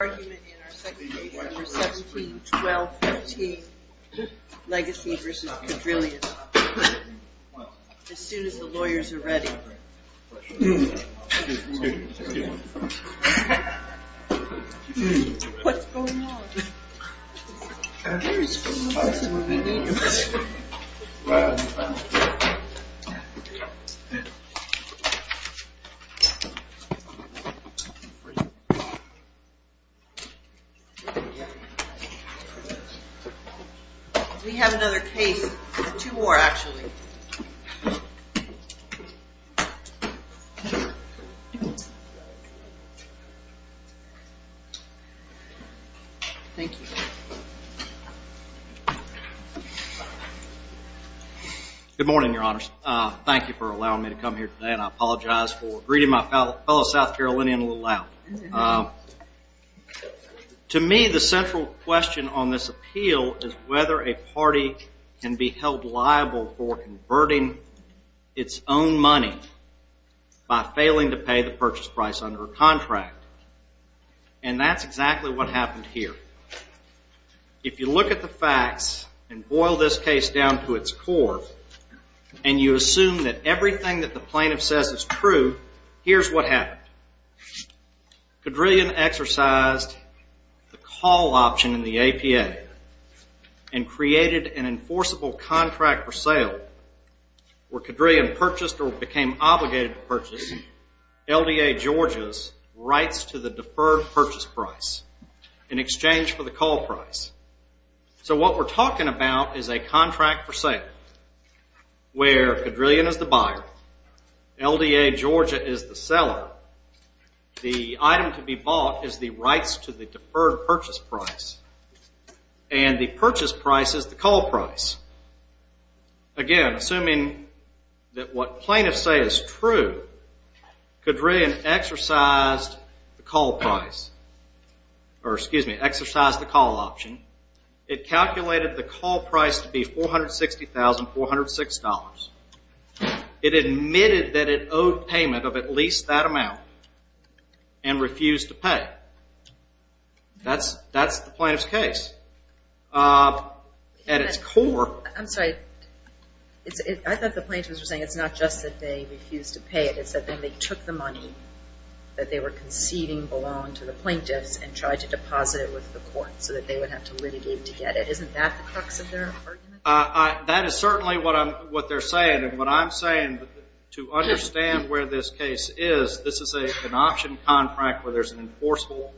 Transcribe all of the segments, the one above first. ...argument in our second paper for 17-12-14, Legacy v. Cadrillion, as soon as the lawyers are ready. What's going on? We have another case. Two more, actually. Thank you. Good morning, Your Honors. Thank you for allowing me to come here today, and I apologize for greeting my fellow South Carolinian a little loud. To me, the central question on this appeal is whether a party can be held liable for converting its own money by failing to pay the purchase price under a contract. And that's exactly what happened here. If you look at the facts and boil this case down to its core and you assume that everything that the plaintiff says is true, here's what happened. Cadrillion exercised the call option in the APA and created an enforceable contract for sale where Cadrillion purchased or became obligated to purchase LDA Georgia's rights to the deferred purchase price in exchange for the call price. So what we're talking about is a contract for sale where Cadrillion is the buyer, LDA Georgia is the seller, the item to be bought is the rights to the deferred purchase price, and the purchase price is the call price. Again, assuming that what plaintiffs say is true, Cadrillion exercised the call option. It calculated the call price to be $460,406. It admitted that it owed payment of at least that amount and refused to pay. That's the plaintiff's case. At its core. I'm sorry. I thought the plaintiffs were saying it's not just that they refused to pay it. It's that they took the money that they were conceding belong to the plaintiffs and tried to deposit it with the court so that they would have to litigate to get it. Isn't that the crux of their argument? That is certainly what they're saying. And what I'm saying to understand where this case is, this is an option contract where there's an enforceable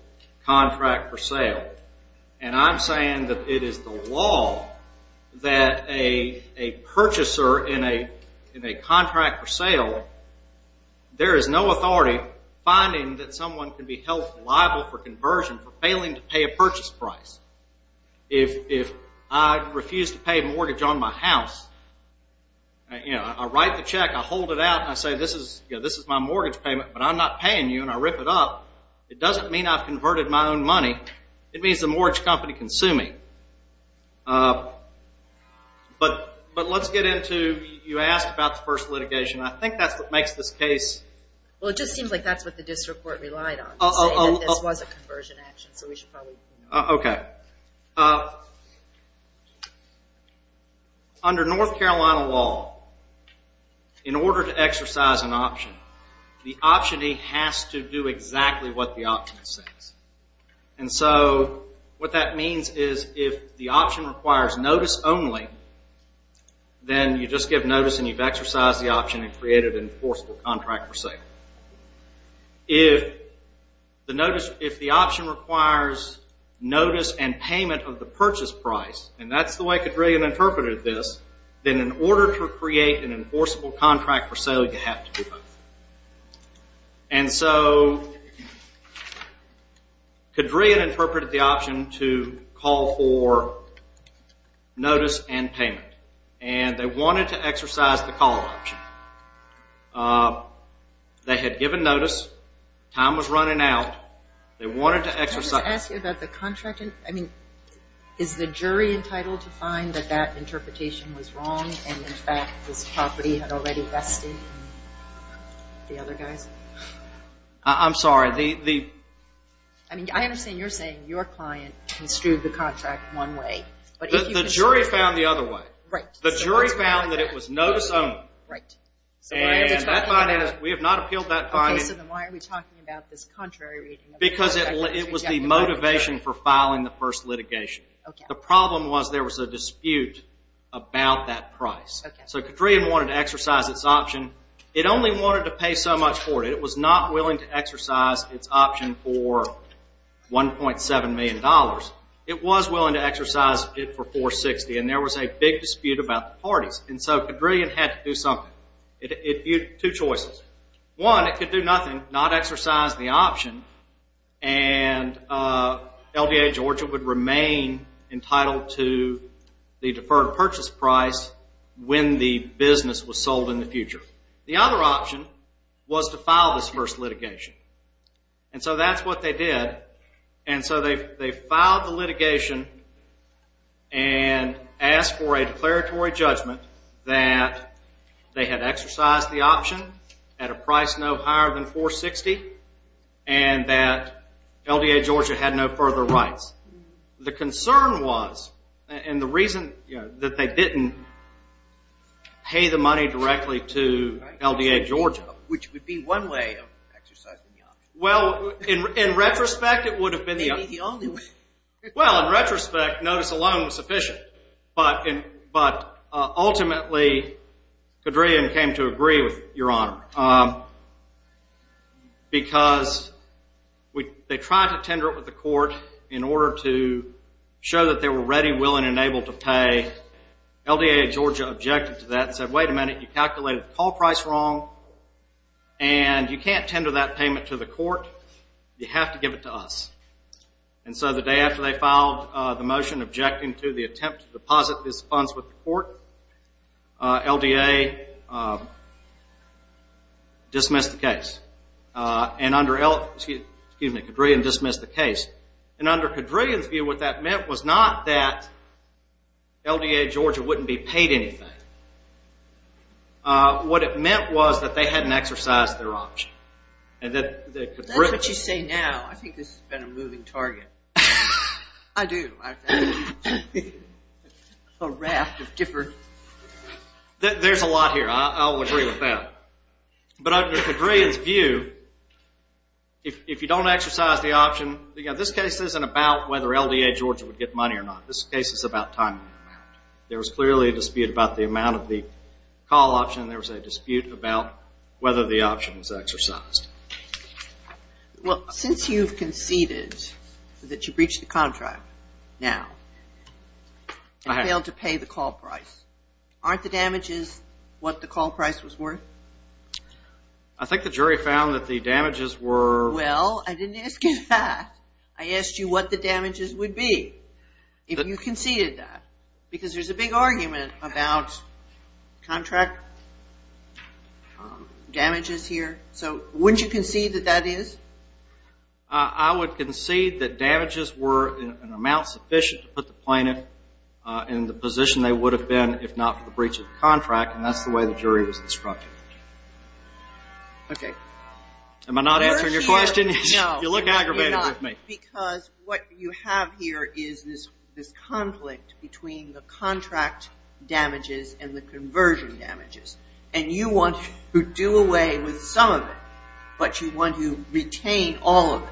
contract for sale. And I'm saying that it is the law that a purchaser in a contract for sale, there is no authority finding that someone can be held liable for conversion for failing to pay a purchase price. If I refuse to pay mortgage on my house, I write the check, I hold it out, and I say this is my mortgage payment, but I'm not paying you, and I rip it up. It doesn't mean I've converted my own money. It means the mortgage company can sue me. But let's get into you asked about the first litigation. I think that's what makes this case. Well, it just seems like that's what the district court relied on. This was a conversion action, so we should probably. Okay. Under North Carolina law, in order to exercise an option, the optionee has to do exactly what the option says. And so what that means is if the option requires notice only, then you just give notice and you've exercised the option and created an enforceable contract for sale. If the option requires notice and payment of the purchase price, and that's the way Cadrillion interpreted this, then in order to create an enforceable contract for sale, you have to do both. And so Cadrillion interpreted the option to call for notice and payment, and they wanted to exercise the call option. They had given notice. Time was running out. Can I just ask you about the contract? I mean, is the jury entitled to find that that interpretation was wrong and, in fact, this property had already vested in the other guys? I'm sorry. I mean, I understand you're saying your client construed the contract one way. The jury found the other way. Right. The jury found that it was notice only. Right. And we have not appealed that finding. Why are we talking about this contrary reading? Because it was the motivation for filing the first litigation. Okay. The problem was there was a dispute about that price. Okay. So Cadrillion wanted to exercise its option. It only wanted to pay so much for it. It was not willing to exercise its option for $1.7 million. It was willing to exercise it for $460,000, and there was a big dispute about the parties. And so Cadrillion had to do something. Two choices. One, it could do nothing, not exercise the option, and LDA Georgia would remain entitled to the deferred purchase price when the business was sold in the future. The other option was to file this first litigation. And so that's what they did. And so they filed the litigation and asked for a declaratory judgment that they had exercised the option at a price no higher than $460,000 and that LDA Georgia had no further rights. The concern was, and the reason that they didn't pay the money directly to LDA Georgia. Which would be one way of exercising the option. Well, in retrospect, it would have been the only way. Well, in retrospect, notice alone was sufficient. But ultimately, Cadrillion came to agree with Your Honor. Because they tried to tender it with the court in order to show that they were ready, willing, and able to pay. LDA Georgia objected to that and said, wait a minute, you calculated the call price wrong, and you can't tender that payment to the court. You have to give it to us. And so the day after they filed the motion objecting to the attempt to deposit these funds with the court, LDA dismissed the case. And under L, excuse me, Cadrillion dismissed the case. And under Cadrillion's view, what that meant was not that LDA Georgia wouldn't be paid anything. What it meant was that they hadn't exercised their option. That's what you say now. I think this has been a moving target. I do. A raft of different. There's a lot here. I'll agree with that. But under Cadrillion's view, if you don't exercise the option, this case isn't about whether LDA Georgia would get money or not. This case is about timing. There was clearly a dispute about the amount of the call option. There was a dispute about whether the option was exercised. Well, since you've conceded that you breached the contract now and failed to pay the call price, aren't the damages what the call price was worth? I think the jury found that the damages were. Well, I didn't ask you that. I asked you what the damages would be if you conceded that. Because there's a big argument about contract damages here. So wouldn't you concede that that is? I would concede that damages were an amount sufficient to put the plaintiff in the position they would have been if not for the breach of the contract, and that's the way the jury was instructed. Okay. Am I not answering your question? No. You look aggravated with me. Because what you have here is this conflict between the contract damages and the conversion damages. And you want to do away with some of it, but you want to retain all of it.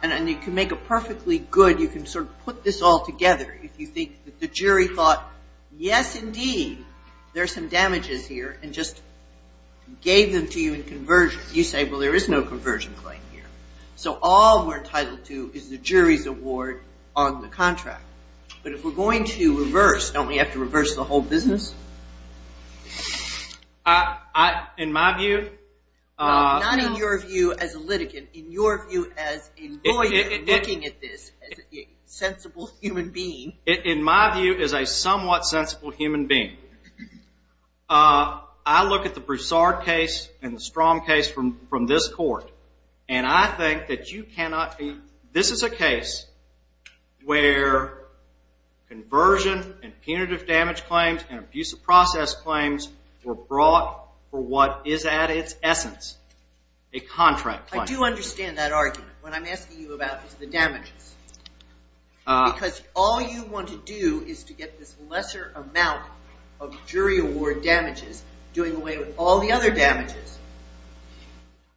And you can make a perfectly good, you can sort of put this all together if you think that the jury thought, yes, indeed, there's some damages here and just gave them to you in conversion. You say, well, there is no conversion claim here. So all we're entitled to is the jury's award on the contract. But if we're going to reverse, don't we have to reverse the whole business? In my view. Not in your view as a litigant. In your view as a lawyer looking at this as a sensible human being. In my view as a somewhat sensible human being. I look at the Broussard case and the Strom case from this court. And I think that you cannot be, this is a case where conversion and punitive damage claims and abuse of process claims were brought for what is at its essence, a contract claim. I do understand that argument. What I'm asking you about is the damages. Because all you want to do is to get this lesser amount of jury award damages, doing away with all the other damages.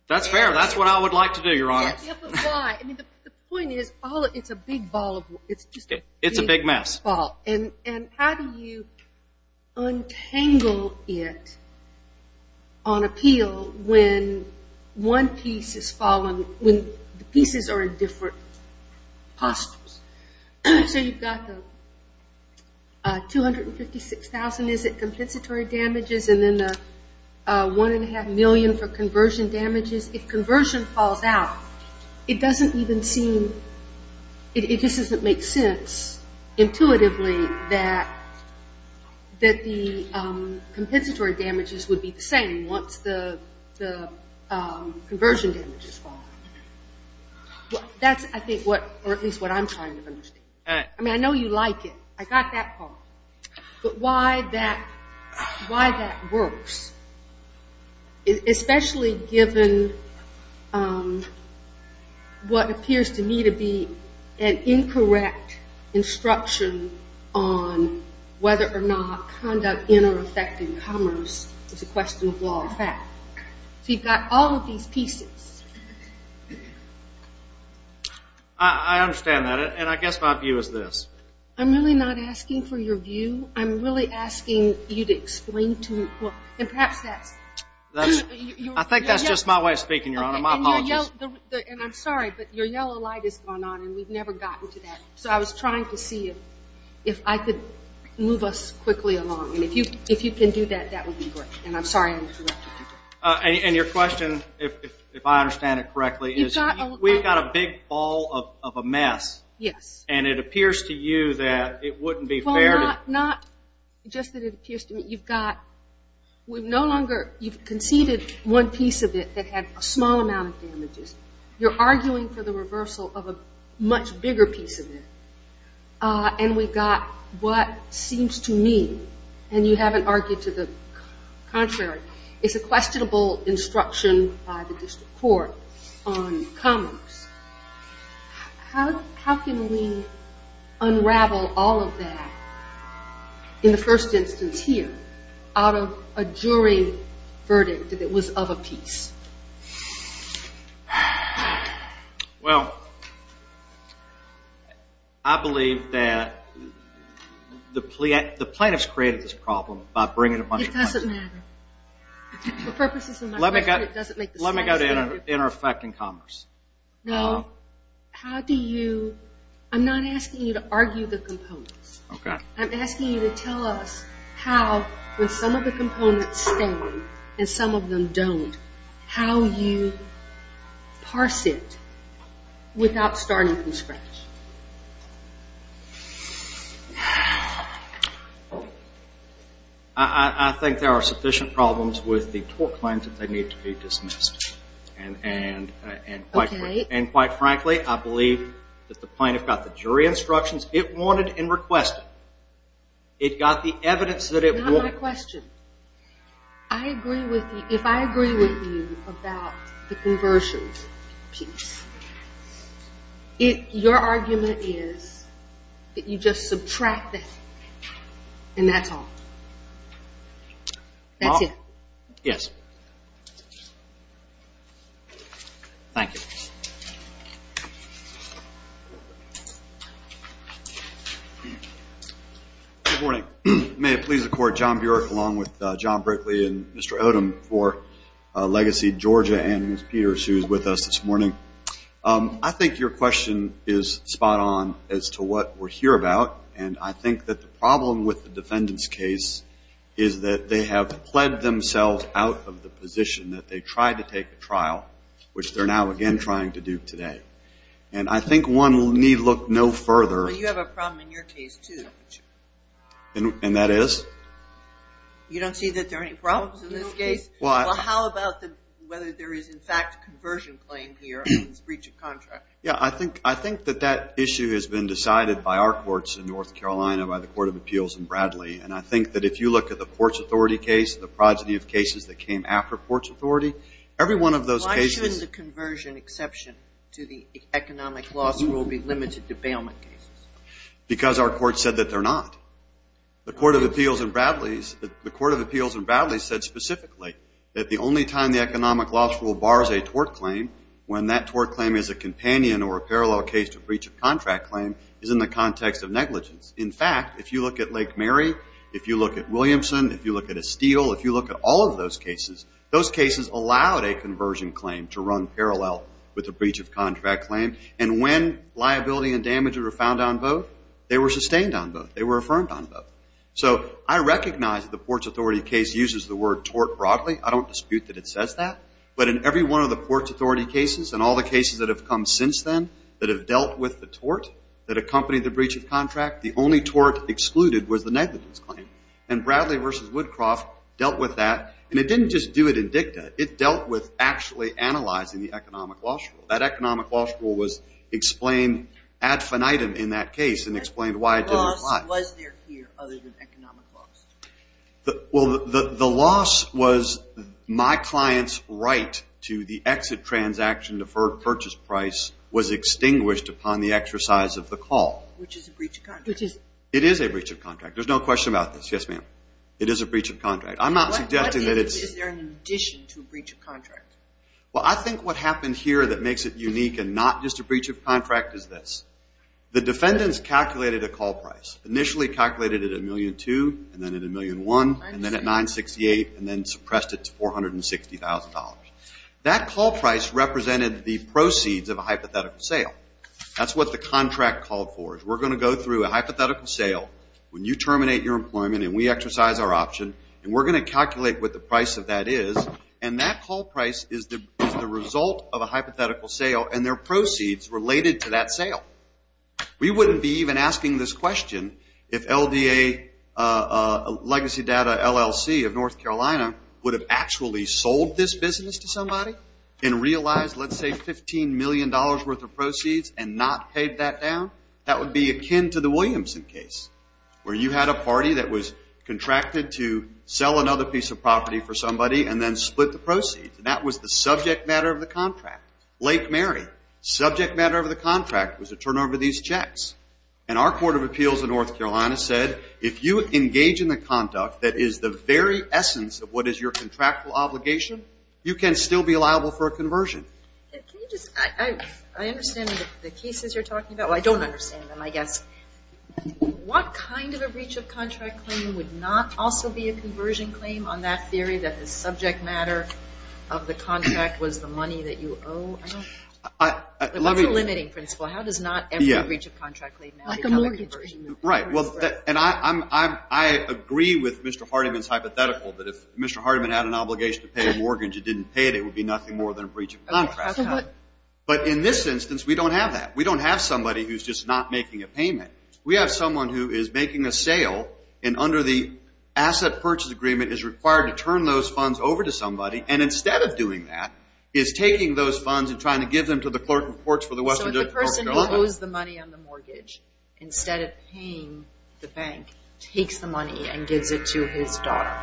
That's fair. That's what I would like to do, Your Honor. Yeah, but why? I mean, the point is, it's a big ball of wood. It's a big mess. And how do you untangle it on appeal when one piece is fallen, when the pieces are in different postures? So you've got the $256,000, is it, compensatory damages? And then the $1.5 million for conversion damages. If conversion falls out, it doesn't even seem, it just doesn't make sense, intuitively, that the compensatory damages would be the same once the conversion damages fall. That's, I think, what, or at least what I'm trying to understand. All right. I mean, I know you like it. I got that part. But why that works, especially given what appears to me to be an incorrect instruction on whether or not conduct in or effect in commerce is a question of law and fact. So you've got all of these pieces. I understand that. And I guess my view is this. I'm really not asking for your view. I'm really asking you to explain to me what, and perhaps that's. I think that's just my way of speaking, Your Honor. My apologies. And I'm sorry, but your yellow light is going on, and we've never gotten to that. So I was trying to see if I could move us quickly along. And if you can do that, that would be great. And your question, if I understand it correctly, is we've got a big ball of a mess. Yes. And it appears to you that it wouldn't be fair to. Well, not just that it appears to me. You've conceded one piece of it that had a small amount of damages. You're arguing for the reversal of a much bigger piece of it. And we've got what seems to me, and you haven't argued to the contrary, is a questionable instruction by the district court on commerce. How can we unravel all of that in the first instance here out of a jury verdict that it was of a piece? Well, I believe that the plaintiffs created this problem by bringing a bunch of. It doesn't matter. For purposes of my question, it doesn't make the slightest difference. Let me go to inner effect in commerce. No. How do you... I'm not asking you to argue the components. Okay. I'm asking you to tell us how, when some of the components stand and some of them don't, how you parse it without starting from scratch. I think there are sufficient problems with the tort claims that they need to be dismissed. And quite frankly, I believe that the plaintiff got the jury instructions it wanted and requested. It got the evidence that it wanted. Not my question. I agree with you. If I agree with you about the conversions piece, your argument is that you just subtract that and that's all. That's it. Yes. Thank you. Good morning. May it please the Court, John Burek along with John Brickley and Mr. Odom for Legacy Georgia and Ms. Peters who is with us this morning. I think your question is spot on as to what we're here about. And I think that the problem with the defendant's case is that they have pled themselves out of the position that they tried to take the trial, which they're now again trying to do today. And I think one need look no further. Well, you have a problem in your case, too. And that is? You don't see that there are any problems in this case? Well, how about whether there is, in fact, a conversion claim here in this breach of contract? Yeah, I think that that issue has been decided by our courts in North Carolina, by the Court of Appeals in Bradley. And I think that if you look at the Courts Authority case, the progeny of cases that came after Courts Authority, every one of those cases – Why would the economic loss rule be limited to bailment cases? Because our courts said that they're not. The Court of Appeals in Bradley said specifically that the only time the economic loss rule bars a tort claim, when that tort claim is a companion or a parallel case to a breach of contract claim, is in the context of negligence. In fact, if you look at Lake Mary, if you look at Williamson, if you look at Estill, if you look at all of those cases, those cases allowed a conversion claim to run parallel with a breach of contract claim. And when liability and damage were found on both, they were sustained on both. They were affirmed on both. So I recognize that the Courts Authority case uses the word tort broadly. I don't dispute that it says that. But in every one of the Courts Authority cases and all the cases that have come since then that have dealt with the tort that accompanied the breach of contract, the only tort excluded was the negligence claim. And Bradley v. Woodcroft dealt with that. And it didn't just do it in dicta. It dealt with actually analyzing the economic loss rule. That economic loss rule was explained ad finitum in that case and explained why it didn't apply. Was there fear other than economic loss? Well, the loss was my client's right to the exit transaction deferred purchase price was extinguished upon the exercise of the call. Which is a breach of contract. It is a breach of contract. There's no question about this. Yes, ma'am. It is a breach of contract. I'm not suggesting that it's – What is there in addition to a breach of contract? Well, I think what happened here that makes it unique and not just a breach of contract is this. The defendants calculated a call price. Initially calculated it at $1.2 million, and then at $1.1 million, and then at $968,000, and then suppressed it to $460,000. That call price represented the proceeds of a hypothetical sale. That's what the contract called for, is we're going to go through a hypothetical sale. When you terminate your employment and we exercise our option, and we're going to calculate what the price of that is, and that call price is the result of a hypothetical sale and their proceeds related to that sale. We wouldn't be even asking this question if LDA Legacy Data LLC of North Carolina would have actually sold this business to somebody and realized, let's say, $15 million worth of proceeds and not paid that down. That would be akin to the Williamson case, where you had a party that was contracted to sell another piece of property for somebody and then split the proceeds, and that was the subject matter of the contract. Lake Mary, subject matter of the contract was to turn over these checks. And our court of appeals in North Carolina said, if you engage in the conduct that is the very essence of what is your contractual obligation, you can still be liable for a conversion. Can you just – I understand the cases you're talking about. Well, I don't understand them, I guess. What kind of a breach of contract claim would not also be a conversion claim on that theory that the subject matter of the contract was the money that you owe? That's a limiting principle. How does not every breach of contract claim become a conversion claim? Right. And I agree with Mr. Hardiman's hypothetical that if Mr. Hardiman had an obligation to pay a mortgage and didn't pay it, it would be nothing more than a breach of contract. But in this instance, we don't have that. We don't have somebody who's just not making a payment. We have someone who is making a sale, and under the asset purchase agreement, is required to turn those funds over to somebody, and instead of doing that, is taking those funds and trying to give them to the clerk who works for the Western District of North Carolina. So the person who owes the money on the mortgage, instead of paying the bank, takes the money and gives it to his daughter.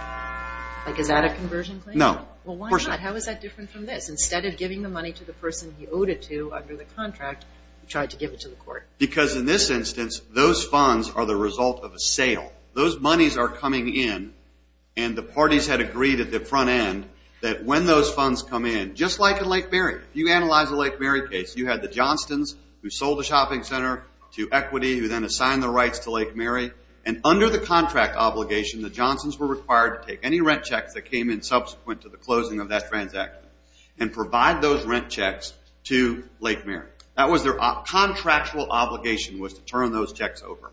Like, is that a conversion claim? No. Well, why not? How is that different from this? Because in this instance, those funds are the result of a sale. Those monies are coming in, and the parties had agreed at the front end that when those funds come in, just like in Lake Mary, if you analyze the Lake Mary case, you had the Johnstons who sold the shopping center to Equity, who then assigned the rights to Lake Mary, and under the contract obligation, the Johnstons were required to take any rent checks that came in subsequent to the closing of that transaction and provide those rent checks to Lake Mary. That was their contractual obligation, was to turn those checks over.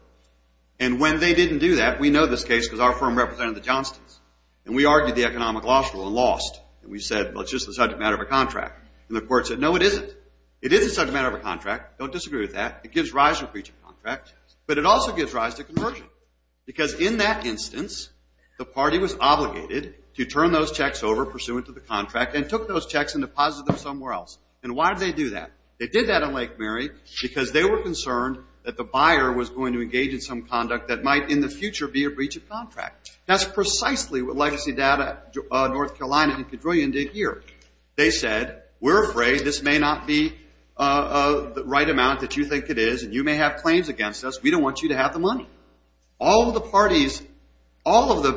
And when they didn't do that, we know this case because our firm represented the Johnstons, and we argued the economic loss rule and lost. And we said, well, it's just a subject matter of a contract. And the court said, no, it isn't. It is a subject matter of a contract. Don't disagree with that. It gives rise to a breach of contract, but it also gives rise to conversion. Because in that instance, the party was obligated to turn those checks over pursuant to the contract and took those checks and deposited them somewhere else. And why did they do that? They did that in Lake Mary because they were concerned that the buyer was going to engage in some conduct that might in the future be a breach of contract. That's precisely what Legacy Data, North Carolina, and Cadrillion did here. They said, we're afraid this may not be the right amount that you think it is, and you may have claims against us. We don't want you to have the money. All of the parties admitted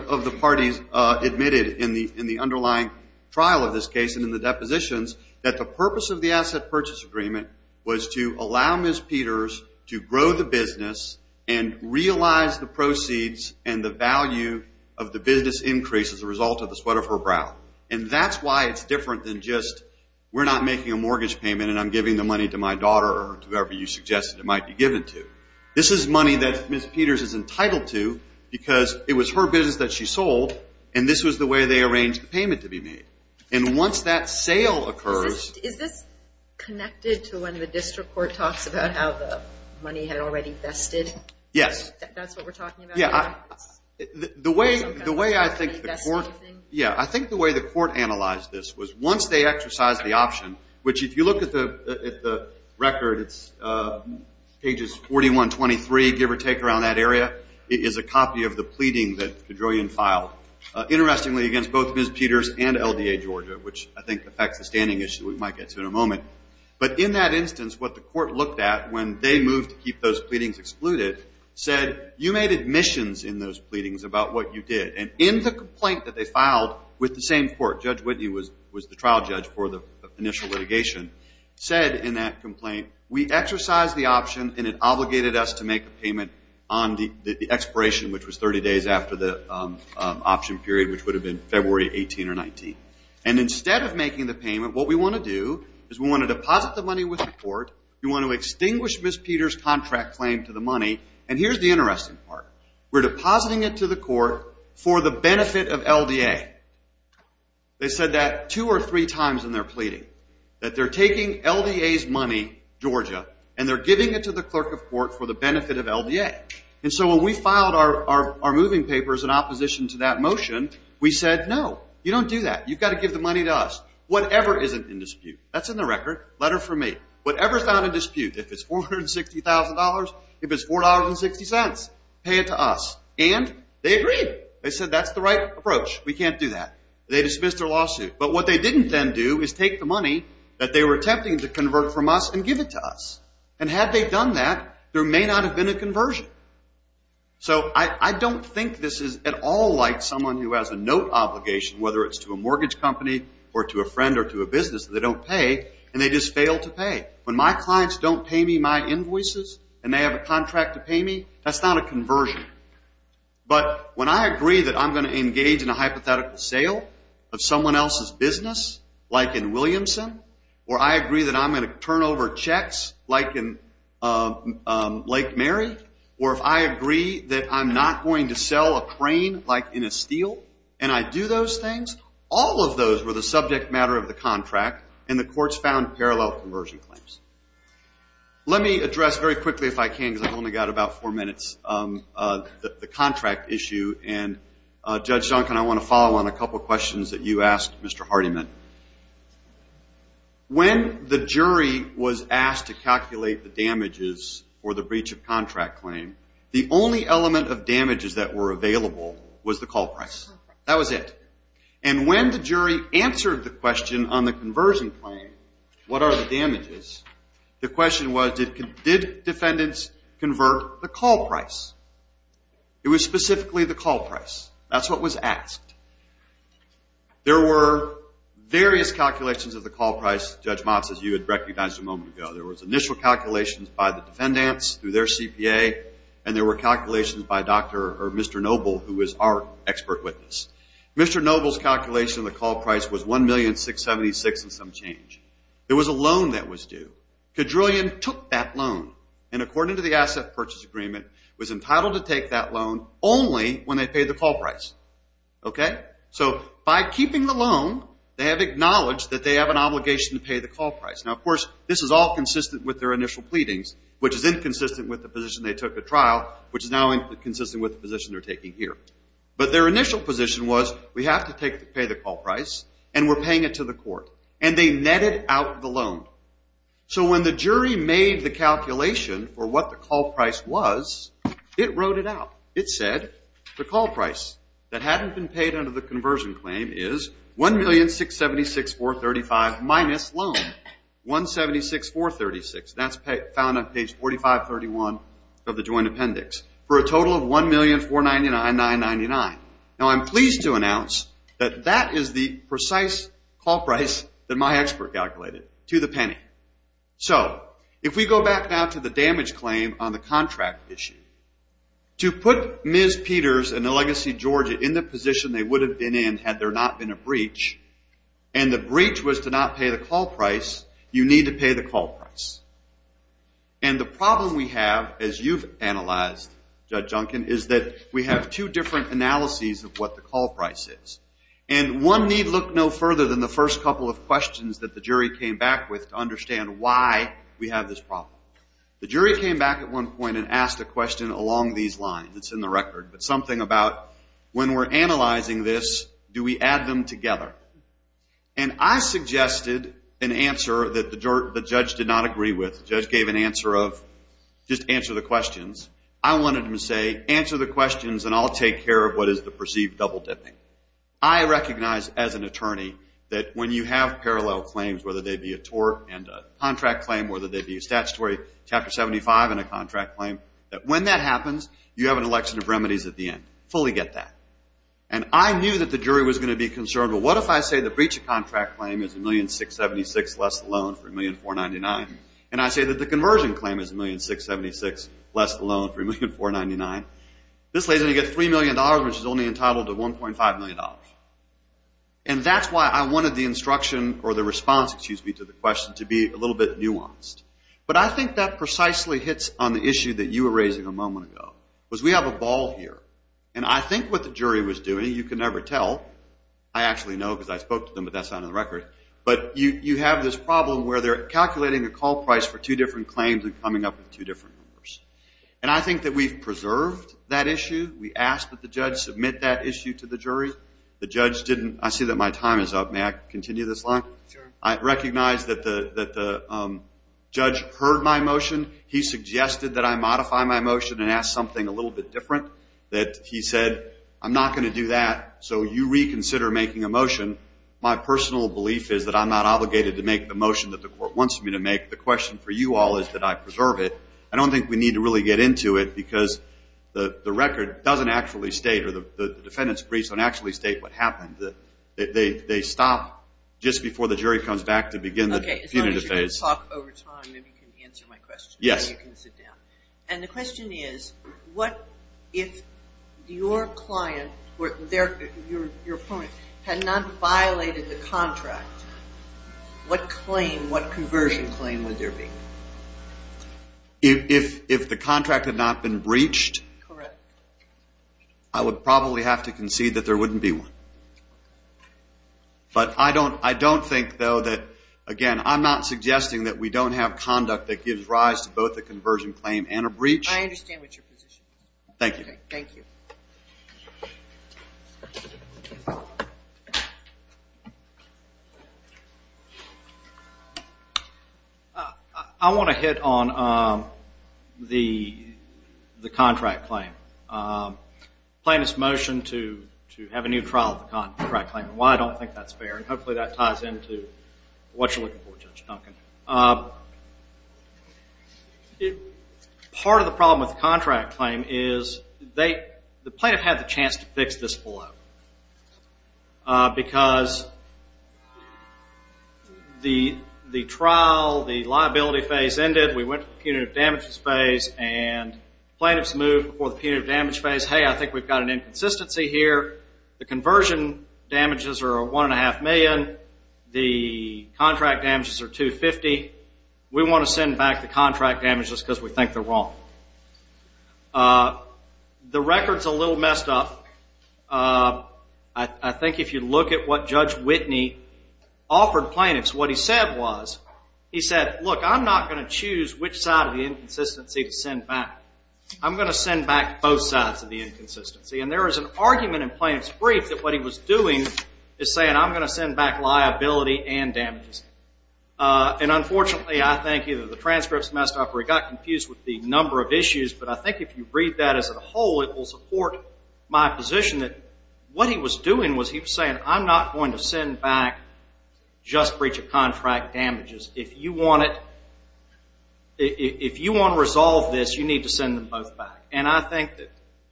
in the underlying trial of this case and in the depositions that the purpose of the asset purchase agreement was to allow Ms. Peters to grow the business and realize the proceeds and the value of the business increase as a result of the sweat of her brow. And that's why it's different than just we're not making a mortgage payment and I'm giving the money to my daughter or to whoever you suggested it might be given to. This is money that Ms. Peters is entitled to because it was her business that she sold, and this was the way they arranged the payment to be made. And once that sale occurs. Is this connected to when the district court talks about how the money had already vested? Yes. That's what we're talking about? Yeah. The way I think the court. Yeah, I think the way the court analyzed this was once they exercised the option, which if you look at the record, it's pages 41, 23, give or take around that area, it is a copy of the pleading that Kedroian filed. Interestingly, against both Ms. Peters and LDA Georgia, which I think affects the standing issue we might get to in a moment. But in that instance, what the court looked at when they moved to keep those pleadings excluded, said you made admissions in those pleadings about what you did. And in the complaint that they filed with the same court, Judge Whitney was the trial judge for the initial litigation, said in that complaint, we exercised the option, and it obligated us to make a payment on the expiration, which was 30 days after the option period, which would have been February 18 or 19. And instead of making the payment, what we want to do is we want to deposit the money with the court. We want to extinguish Ms. Peters' contract claim to the money. And here's the interesting part. We're depositing it to the court for the benefit of LDA. They said that two or three times in their pleading, that they're taking LDA's money, Georgia, and they're giving it to the clerk of court for the benefit of LDA. And so when we filed our moving papers in opposition to that motion, we said, no, you don't do that. You've got to give the money to us. Whatever isn't in dispute. That's in the record. Letter from me. Whatever's not in dispute. If it's $460,000, if it's $4.60, pay it to us. And they agreed. They said that's the right approach. We can't do that. They dismissed their lawsuit. But what they didn't then do is take the money that they were attempting to convert from us and give it to us. And had they done that, there may not have been a conversion. So I don't think this is at all like someone who has a note obligation, whether it's to a mortgage company or to a friend or to a business that they don't pay, and they just fail to pay. When my clients don't pay me my invoices and they have a contract to pay me, that's not a conversion. But when I agree that I'm going to engage in a hypothetical sale of someone else's business, like in Williamson, or I agree that I'm going to turn over checks, like in Lake Mary, or if I agree that I'm not going to sell a crane, like in a steel, and I do those things, all of those were the subject matter of the contract, and the courts found parallel conversion claims. Let me address very quickly, if I can, because I've only got about four minutes, the contract issue. And, Judge Duncan, I want to follow on a couple of questions that you asked Mr. Hardiman. When the jury was asked to calculate the damages for the breach of contract claim, the only element of damages that were available was the call price. That was it. And when the jury answered the question on the conversion claim, what are the damages, the question was, did defendants convert the call price? It was specifically the call price. That's what was asked. There were various calculations of the call price, Judge Motz, as you had recognized a moment ago. There was initial calculations by the defendants through their CPA, and there were calculations by Dr. or Mr. Noble, who was our expert witness. Mr. Noble's calculation of the call price was $1,676,000 and some change. There was a loan that was due. Kedrillian took that loan, and according to the asset purchase agreement, was entitled to take that loan only when they paid the call price. Okay? So by keeping the loan, they have acknowledged that they have an obligation to pay the call price. Now, of course, this is all consistent with their initial pleadings, which is inconsistent with the position they took at trial, which is now inconsistent with the position they're taking here. But their initial position was, we have to pay the call price, and we're paying it to the court. And they netted out the loan. So when the jury made the calculation for what the call price was, it wrote it out. It said the call price that hadn't been paid under the conversion claim is $1,676,435 minus loan, $176,436. That's found on page 4531 of the joint appendix. For a total of $1,499,999. Now, I'm pleased to announce that that is the precise call price that my expert calculated, to the penny. So if we go back now to the damage claim on the contract issue, to put Ms. Peters and the Legacy Georgia in the position they would have been in had there not been a breach, and the breach was to not pay the call price, you need to pay the call price. And the problem we have, as you've analyzed, Judge Junkin, is that we have two different analyses of what the call price is. And one need look no further than the first couple of questions that the jury came back with to understand why we have this problem. The jury came back at one point and asked a question along these lines. It's in the record, but something about when we're analyzing this, do we add them together? And I suggested an answer that the judge did not agree with. The judge gave an answer of, just answer the questions. I wanted him to say, answer the questions and I'll take care of what is the perceived double dipping. I recognize, as an attorney, that when you have parallel claims, whether they be a tort and a contract claim, whether they be a statutory Chapter 75 and a contract claim, that when that happens, you have an election of remedies at the end. Fully get that. And I knew that the jury was going to be concerned. Well, what if I say the breach of contract claim is $1,676,000 less the loan for $1,499,000? And I say that the conversion claim is $1,676,000 less the loan for $1,499,000. This lady's going to get $3 million, which is only entitled to $1.5 million. And that's why I wanted the instruction, or the response, excuse me, to the question to be a little bit nuanced. But I think that precisely hits on the issue that you were raising a moment ago, was we have a ball here. And I think what the jury was doing, you can never tell. I actually know because I spoke to them, but that's not on the record. But you have this problem where they're calculating a call price for two different claims and coming up with two different numbers. And I think that we've preserved that issue. We asked that the judge submit that issue to the jury. The judge didn't. I see that my time is up. May I continue this line? Sure. I recognize that the judge heard my motion. He suggested that I modify my motion and ask something a little bit different. That he said, I'm not going to do that, so you reconsider making a motion. My personal belief is that I'm not obligated to make the motion that the court wants me to make. The question for you all is that I preserve it. I don't think we need to really get into it because the record doesn't actually state, or the defendant's briefs don't actually state what happened. As long as you can talk over time, maybe you can answer my question. Yes. And the question is, if your client, your opponent, had not violated the contract, what conversion claim would there be? If the contract had not been breached, I would probably have to concede that there wouldn't be one. But I don't think, though, that, again, I'm not suggesting that we don't have conduct that gives rise to both a conversion claim and a breach. I understand what your position is. Thank you. Thank you. I want to hit on the contract claim. The plaintiff's motion to have a new trial of the contract claim. Why I don't think that's fair, and hopefully that ties into what you're looking for, Judge Duncan. Part of the problem with the contract claim is the plaintiff had the chance to fix this blow because the trial, the liability phase ended, we went to the punitive damages phase, and plaintiffs moved before the punitive damages phase. Hey, I think we've got an inconsistency here. The conversion damages are $1.5 million. The contract damages are $250. We want to send back the contract damages because we think they're wrong. The record's a little messed up. I think if you look at what Judge Whitney offered plaintiffs, what he said was, he said, I'm going to send back both sides of the inconsistency. And there is an argument in plaintiff's brief that what he was doing is saying, I'm going to send back liability and damages. And unfortunately, I think either the transcript's messed up or he got confused with the number of issues. But I think if you read that as a whole, it will support my position that what he was doing was he was saying, I'm not going to send back just breach of contract damages. If you want to resolve this, you need to send them both back. And I think that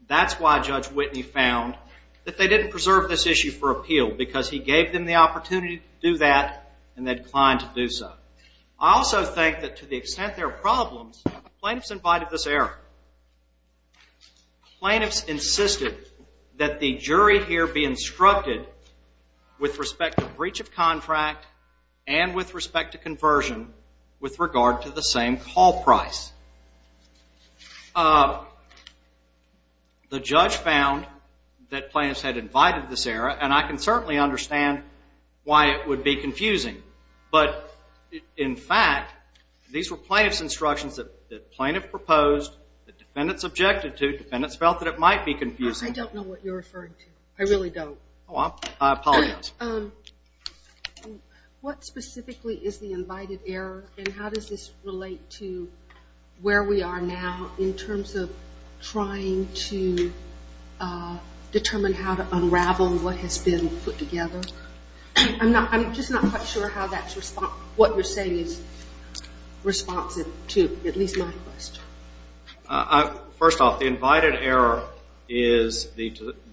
that's why Judge Whitney found that they didn't preserve this issue for appeal because he gave them the opportunity to do that and they declined to do so. I also think that to the extent there are problems, plaintiffs invited this error. Plaintiffs insisted that the jury here be instructed with respect to breach of contract and with respect to conversion with regard to the same call price. The judge found that plaintiffs had invited this error, and I can certainly understand why it would be confusing. But in fact, these were plaintiff's instructions that the plaintiff proposed, the defendants objected to, defendants felt that it might be confusing. I don't know what you're referring to. I really don't. I apologize. What specifically is the invited error and how does this relate to where we are now in terms of trying to determine how to unravel what has been put together? I'm just not quite sure how that's what you're saying is responsive to at least my question. First off, the invited error is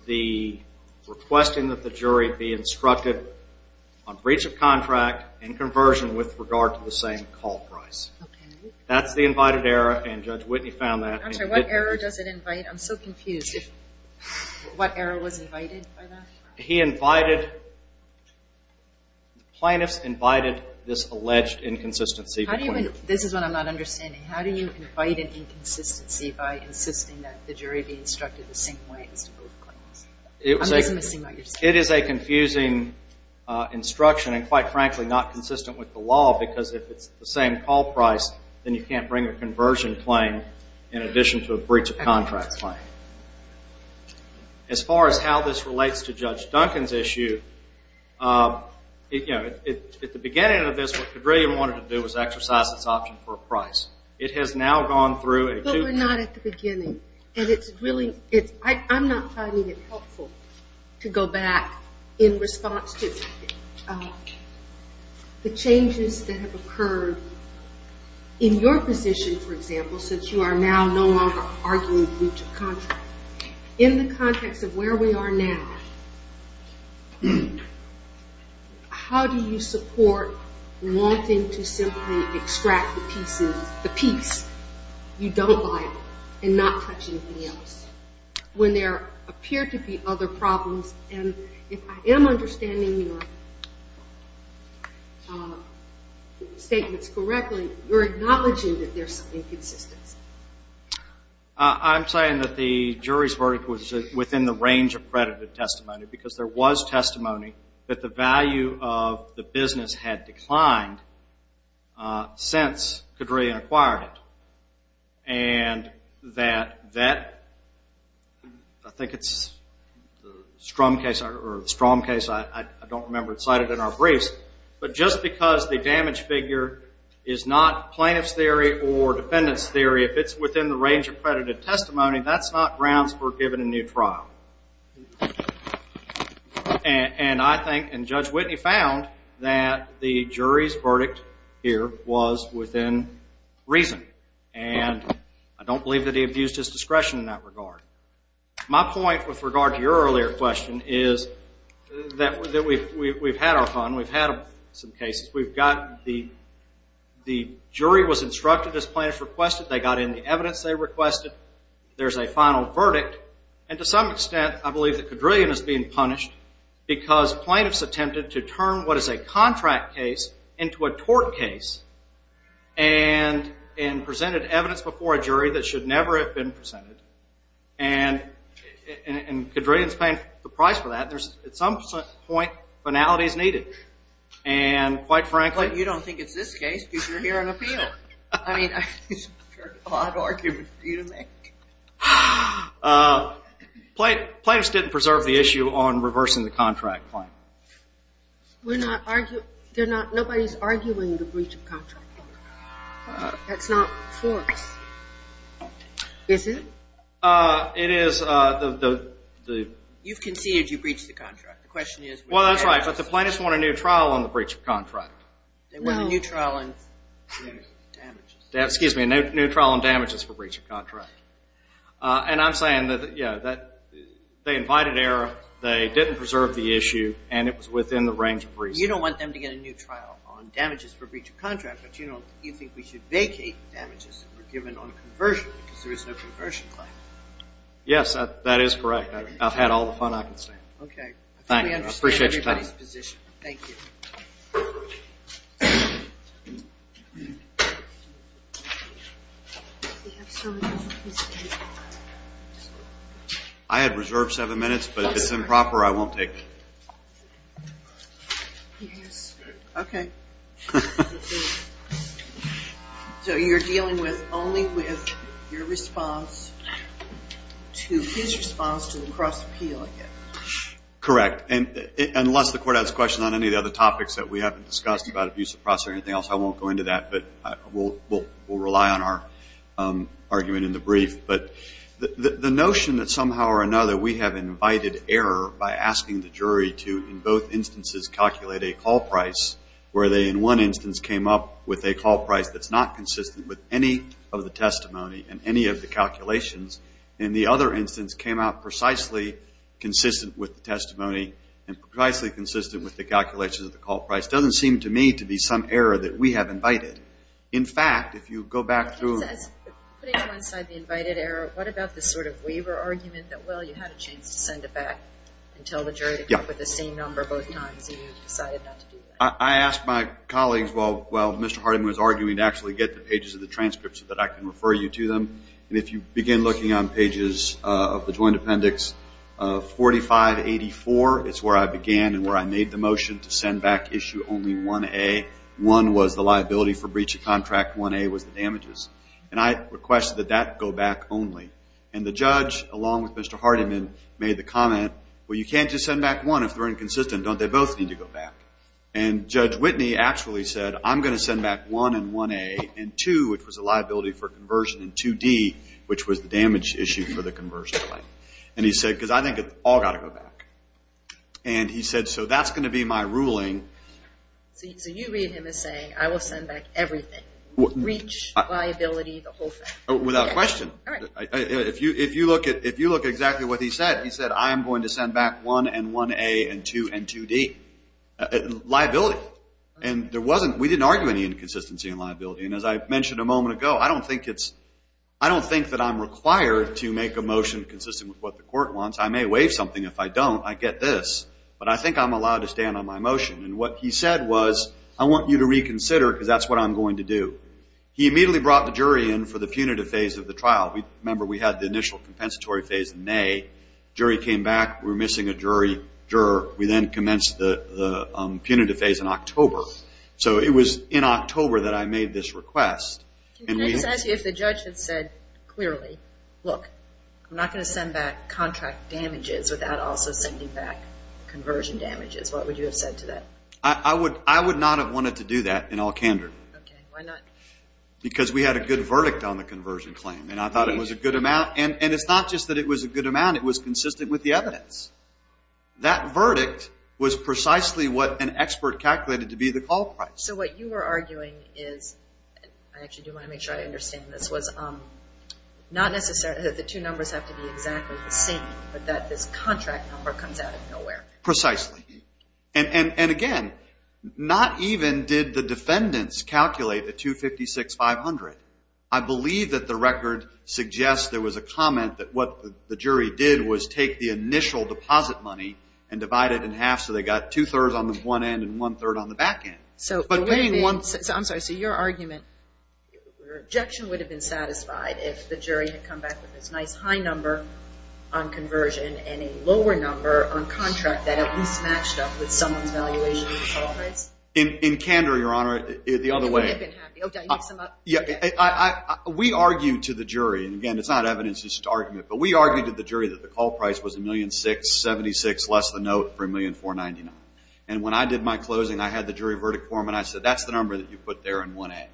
the requesting that the jury be instructed on breach of contract and conversion with regard to the same call price. That's the invited error, and Judge Whitney found that. I'm sorry, what error does it invite? I'm so confused. What error was invited by that? He invited, plaintiffs invited this alleged inconsistency. This is what I'm not understanding. How do you invite an inconsistency by insisting that the jury be instructed the same way as to both claims? I'm just missing what you're saying. It is a confusing instruction and, quite frankly, not consistent with the law because if it's the same call price, then you can't bring a conversion claim in addition to a breach of contract claim. As far as how this relates to Judge Duncan's issue, at the beginning of this, what Pedrillian wanted to do was exercise this option for a price. It has now gone through a two- But we're not at the beginning. I'm not finding it helpful to go back in response to the changes that have occurred in your position, for example, since you are now no longer arguing breach of contract. In the context of where we are now, how do you support wanting to simply extract the piece you don't buy and not touch anything else when there appear to be other problems? And if I am understanding your statements correctly, you're acknowledging that there's some inconsistency. I'm saying that the jury's verdict was within the range of credited testimony because there was testimony that the value of the business had declined since Pedrillian acquired it. And that that, I think it's the Strom case, or the Strom case, I don't remember. It's cited in our briefs. But just because the damage figure is not plaintiff's theory or defendant's theory, if it's within the range of credited testimony, that's not grounds for giving a new trial. And I think, and Judge Whitney found, that the jury's verdict here was within reason. And I don't believe that he abused his discretion in that regard. My point with regard to your earlier question is that we've had our fun. We've had some cases. We've got the jury was instructed as plaintiffs requested. They got in the evidence they requested. There's a final verdict. And to some extent, I believe that Pedrillian is being punished because plaintiffs attempted to turn what is a contract case into a tort case and presented evidence before a jury that should never have been presented. And Pedrillian's paying the price for that. At some point, finality is needed. And quite frankly, you don't think it's this case because you're here on appeal. I mean, I've heard a lot of arguments for you to make. Plaintiffs didn't preserve the issue on reversing the contract claim. We're not arguing. Nobody's arguing the breach of contract. That's not for us. Is it? It is. You've conceded you breached the contract. Well, that's right, but the plaintiffs want a new trial on the breach of contract. They want a new trial on damages. Excuse me, a new trial on damages for breach of contract. And I'm saying that they invited error, they didn't preserve the issue, and it was within the range of reason. You don't want them to get a new trial on damages for breach of contract, but you think we should vacate the damages that were given on conversion because there is no conversion claim. Yes, that is correct. I've had all the fun I can stand. Okay. Thank you. I appreciate your time. Thank you. I had reserved seven minutes, but if it's improper, I won't take it. Okay. So you're dealing with only with your response to his response to the cross-appeal? Correct. Unless the court has a question on any of the other topics that we haven't discussed about abuse of process or anything else, I won't go into that, but we'll rely on our argument in the brief. But the notion that somehow or another we have invited error by asking the jury to, in both instances, calculate a call price, where they in one instance came up with a call price that's not consistent with any of the testimony and any of the calculations, and the other instance came out precisely consistent with the testimony and precisely consistent with the calculations of the call price, doesn't seem to me to be some error that we have invited. In fact, if you go back through. It says, putting aside the invited error, what about the sort of waiver argument that, well, you had a chance to send it back and tell the jury to come up with the same number both times and you decided not to do that? I asked my colleagues, while Mr. Hardiman was arguing, to actually get the pages of the transcripts so that I can refer you to them. And if you begin looking on pages of the Joint Appendix 4584, it's where I began and where I made the motion to send back issue only 1A. 1 was the liability for breach of contract. 1A was the damages. And I requested that that go back only. And the judge, along with Mr. Hardiman, made the comment, well, you can't just send back 1 if they're inconsistent. Don't they both need to go back? And Judge Whitney actually said, I'm going to send back 1 in 1A and 2, which was the liability for conversion, and 2D, which was the damage issue for the conversion claim. And he said, because I think it's all got to go back. And he said, so that's going to be my ruling. So you read him as saying, I will send back everything, breach, liability, the whole thing. Without question. If you look at exactly what he said, he said, I am going to send back 1 in 1A and 2 in 2D, liability. And we didn't argue any inconsistency in liability. And as I mentioned a moment ago, I don't think that I'm required to make a motion consistent with what the court wants. I may waive something. If I don't, I get this. But I think I'm allowed to stand on my motion. And what he said was, I want you to reconsider because that's what I'm going to do. He immediately brought the jury in for the punitive phase of the trial. Remember, we had the initial compensatory phase in May. Jury came back. We were missing a juror. We then commenced the punitive phase in October. So it was in October that I made this request. Can I just ask you, if the judge had said clearly, look, I'm not going to send back contract damages without also sending back conversion damages, what would you have said to that? I would not have wanted to do that in all candor. Okay. Why not? Because we had a good verdict on the conversion claim. And I thought it was a good amount. And it's not just that it was a good amount. It was consistent with the evidence. That verdict was precisely what an expert calculated to be the call price. So what you were arguing is, I actually do want to make sure I understand this, was not necessarily that the two numbers have to be exactly the same, but that this contract number comes out of nowhere. Precisely. And, again, not even did the defendants calculate the $256,500. I believe that the record suggests there was a comment that what the jury did was take the initial deposit money and divide it in half so they got two-thirds on the front end and one-third on the back end. So I'm sorry. So your argument, your objection would have been satisfied if the jury had come back with this nice high number on conversion and a lower number on contract that at least matched up with someone's valuation of the call price? In candor, Your Honor, the other way. We argued to the jury, and, again, it's not evidence used to argument, but we argued to the jury that the call price was $1,676,000, less the note for $1,499,000. And when I did my closing, I had the jury verdict form, and I said that's the number that you put there in 1A.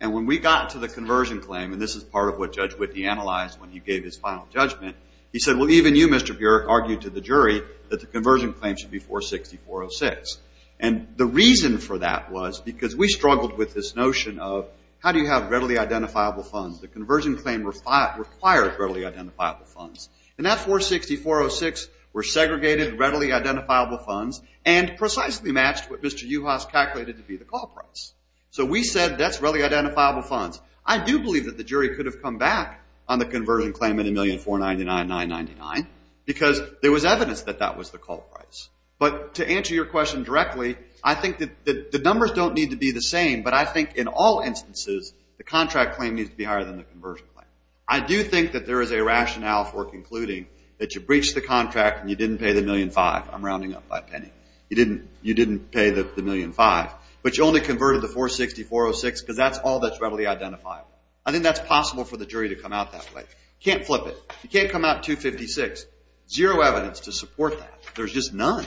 And when we got to the conversion claim, and this is part of what Judge Whitney analyzed when he gave his final judgment, he said, well, even you, Mr. Burek, argued to the jury that the conversion claim should be $464,006. And the reason for that was because we struggled with this notion of how do you have readily identifiable funds? The conversion claim required readily identifiable funds. And that $464,006 were segregated readily identifiable funds and precisely matched what Mr. Juhasz calculated to be the call price. So we said that's readily identifiable funds. I do believe that the jury could have come back on the conversion claim at $1,499,999 because there was evidence that that was the call price. But to answer your question directly, I think that the numbers don't need to be the same, but I think in all instances the contract claim needs to be higher than the conversion claim. I do think that there is a rationale for concluding that you breached the contract and you didn't pay the $1,500,000. I'm rounding up by a penny. You didn't pay the $1,500,000, but you only converted the $464,006 because that's all that's readily identifiable. I think that's possible for the jury to come out that way. You can't flip it. You can't come out $256,000. Zero evidence to support that. There's just none.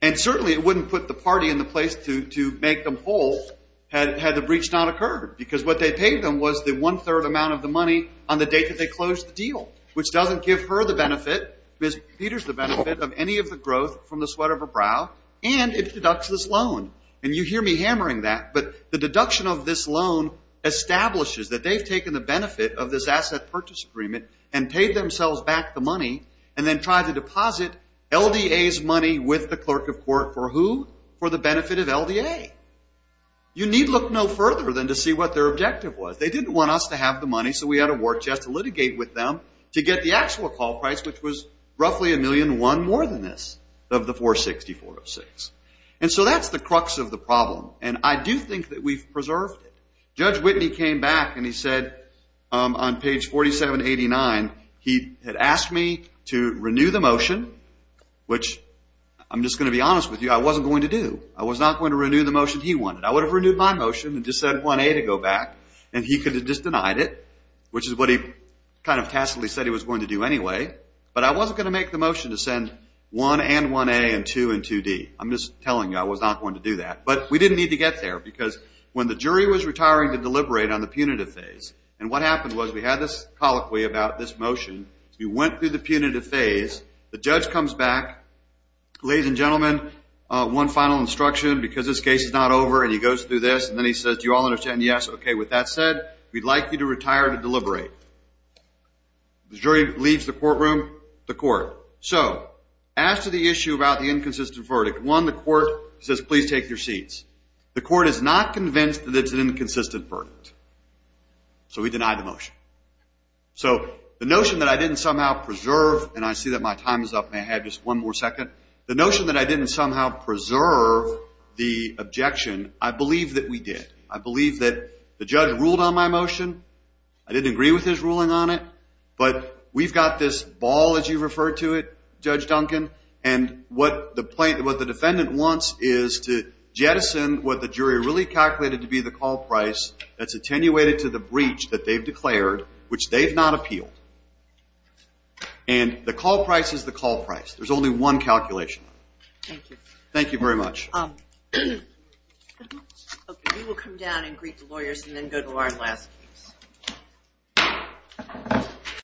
And certainly it wouldn't put the party in the place to make them whole had the breach not occurred because what they paid them was the one-third amount of the money on the date that they closed the deal, which doesn't give her the benefit, Ms. Peters the benefit of any of the growth from the sweat of her brow, and it deducts this loan. And you hear me hammering that, but the deduction of this loan establishes that they've taken the benefit of this asset purchase agreement and paid themselves back the money and then tried to deposit LDA's money with the clerk of court for who? For the benefit of LDA. You need look no further than to see what their objective was. They didn't want us to have the money, so we had to work just to litigate with them to get the actual call price, which was roughly $1,000,001 more than this of the $464,006. And so that's the crux of the problem, and I do think that we've preserved it. When Judge Whitney came back and he said on page 4789, he had asked me to renew the motion, which I'm just going to be honest with you, I wasn't going to do. I was not going to renew the motion he wanted. I would have renewed my motion and just said 1A to go back, and he could have just denied it, which is what he kind of tacitly said he was going to do anyway, but I wasn't going to make the motion to send 1 and 1A and 2 and 2D. I'm just telling you I was not going to do that. But we didn't need to get there, because when the jury was retiring to deliberate on the punitive phase, and what happened was we had this colloquy about this motion. We went through the punitive phase. The judge comes back. Ladies and gentlemen, one final instruction, because this case is not over, and he goes through this, and then he says, do you all understand? Yes. Okay, with that said, we'd like you to retire to deliberate. The jury leaves the courtroom, the court. So as to the issue about the inconsistent verdict, one, the court says, please take your seats. The court is not convinced that it's an inconsistent verdict, so we deny the motion. So the notion that I didn't somehow preserve, and I see that my time is up, may I have just one more second? The notion that I didn't somehow preserve the objection, I believe that we did. I believe that the judge ruled on my motion. I didn't agree with his ruling on it. But we've got this ball, as you refer to it, Judge Duncan, and what the defendant wants is to jettison what the jury really calculated to be the call price that's attenuated to the breach that they've declared, which they've not appealed. And the call price is the call price. There's only one calculation. Thank you. Thank you very much. Okay, we will come down and greet the lawyers and then go to our last case.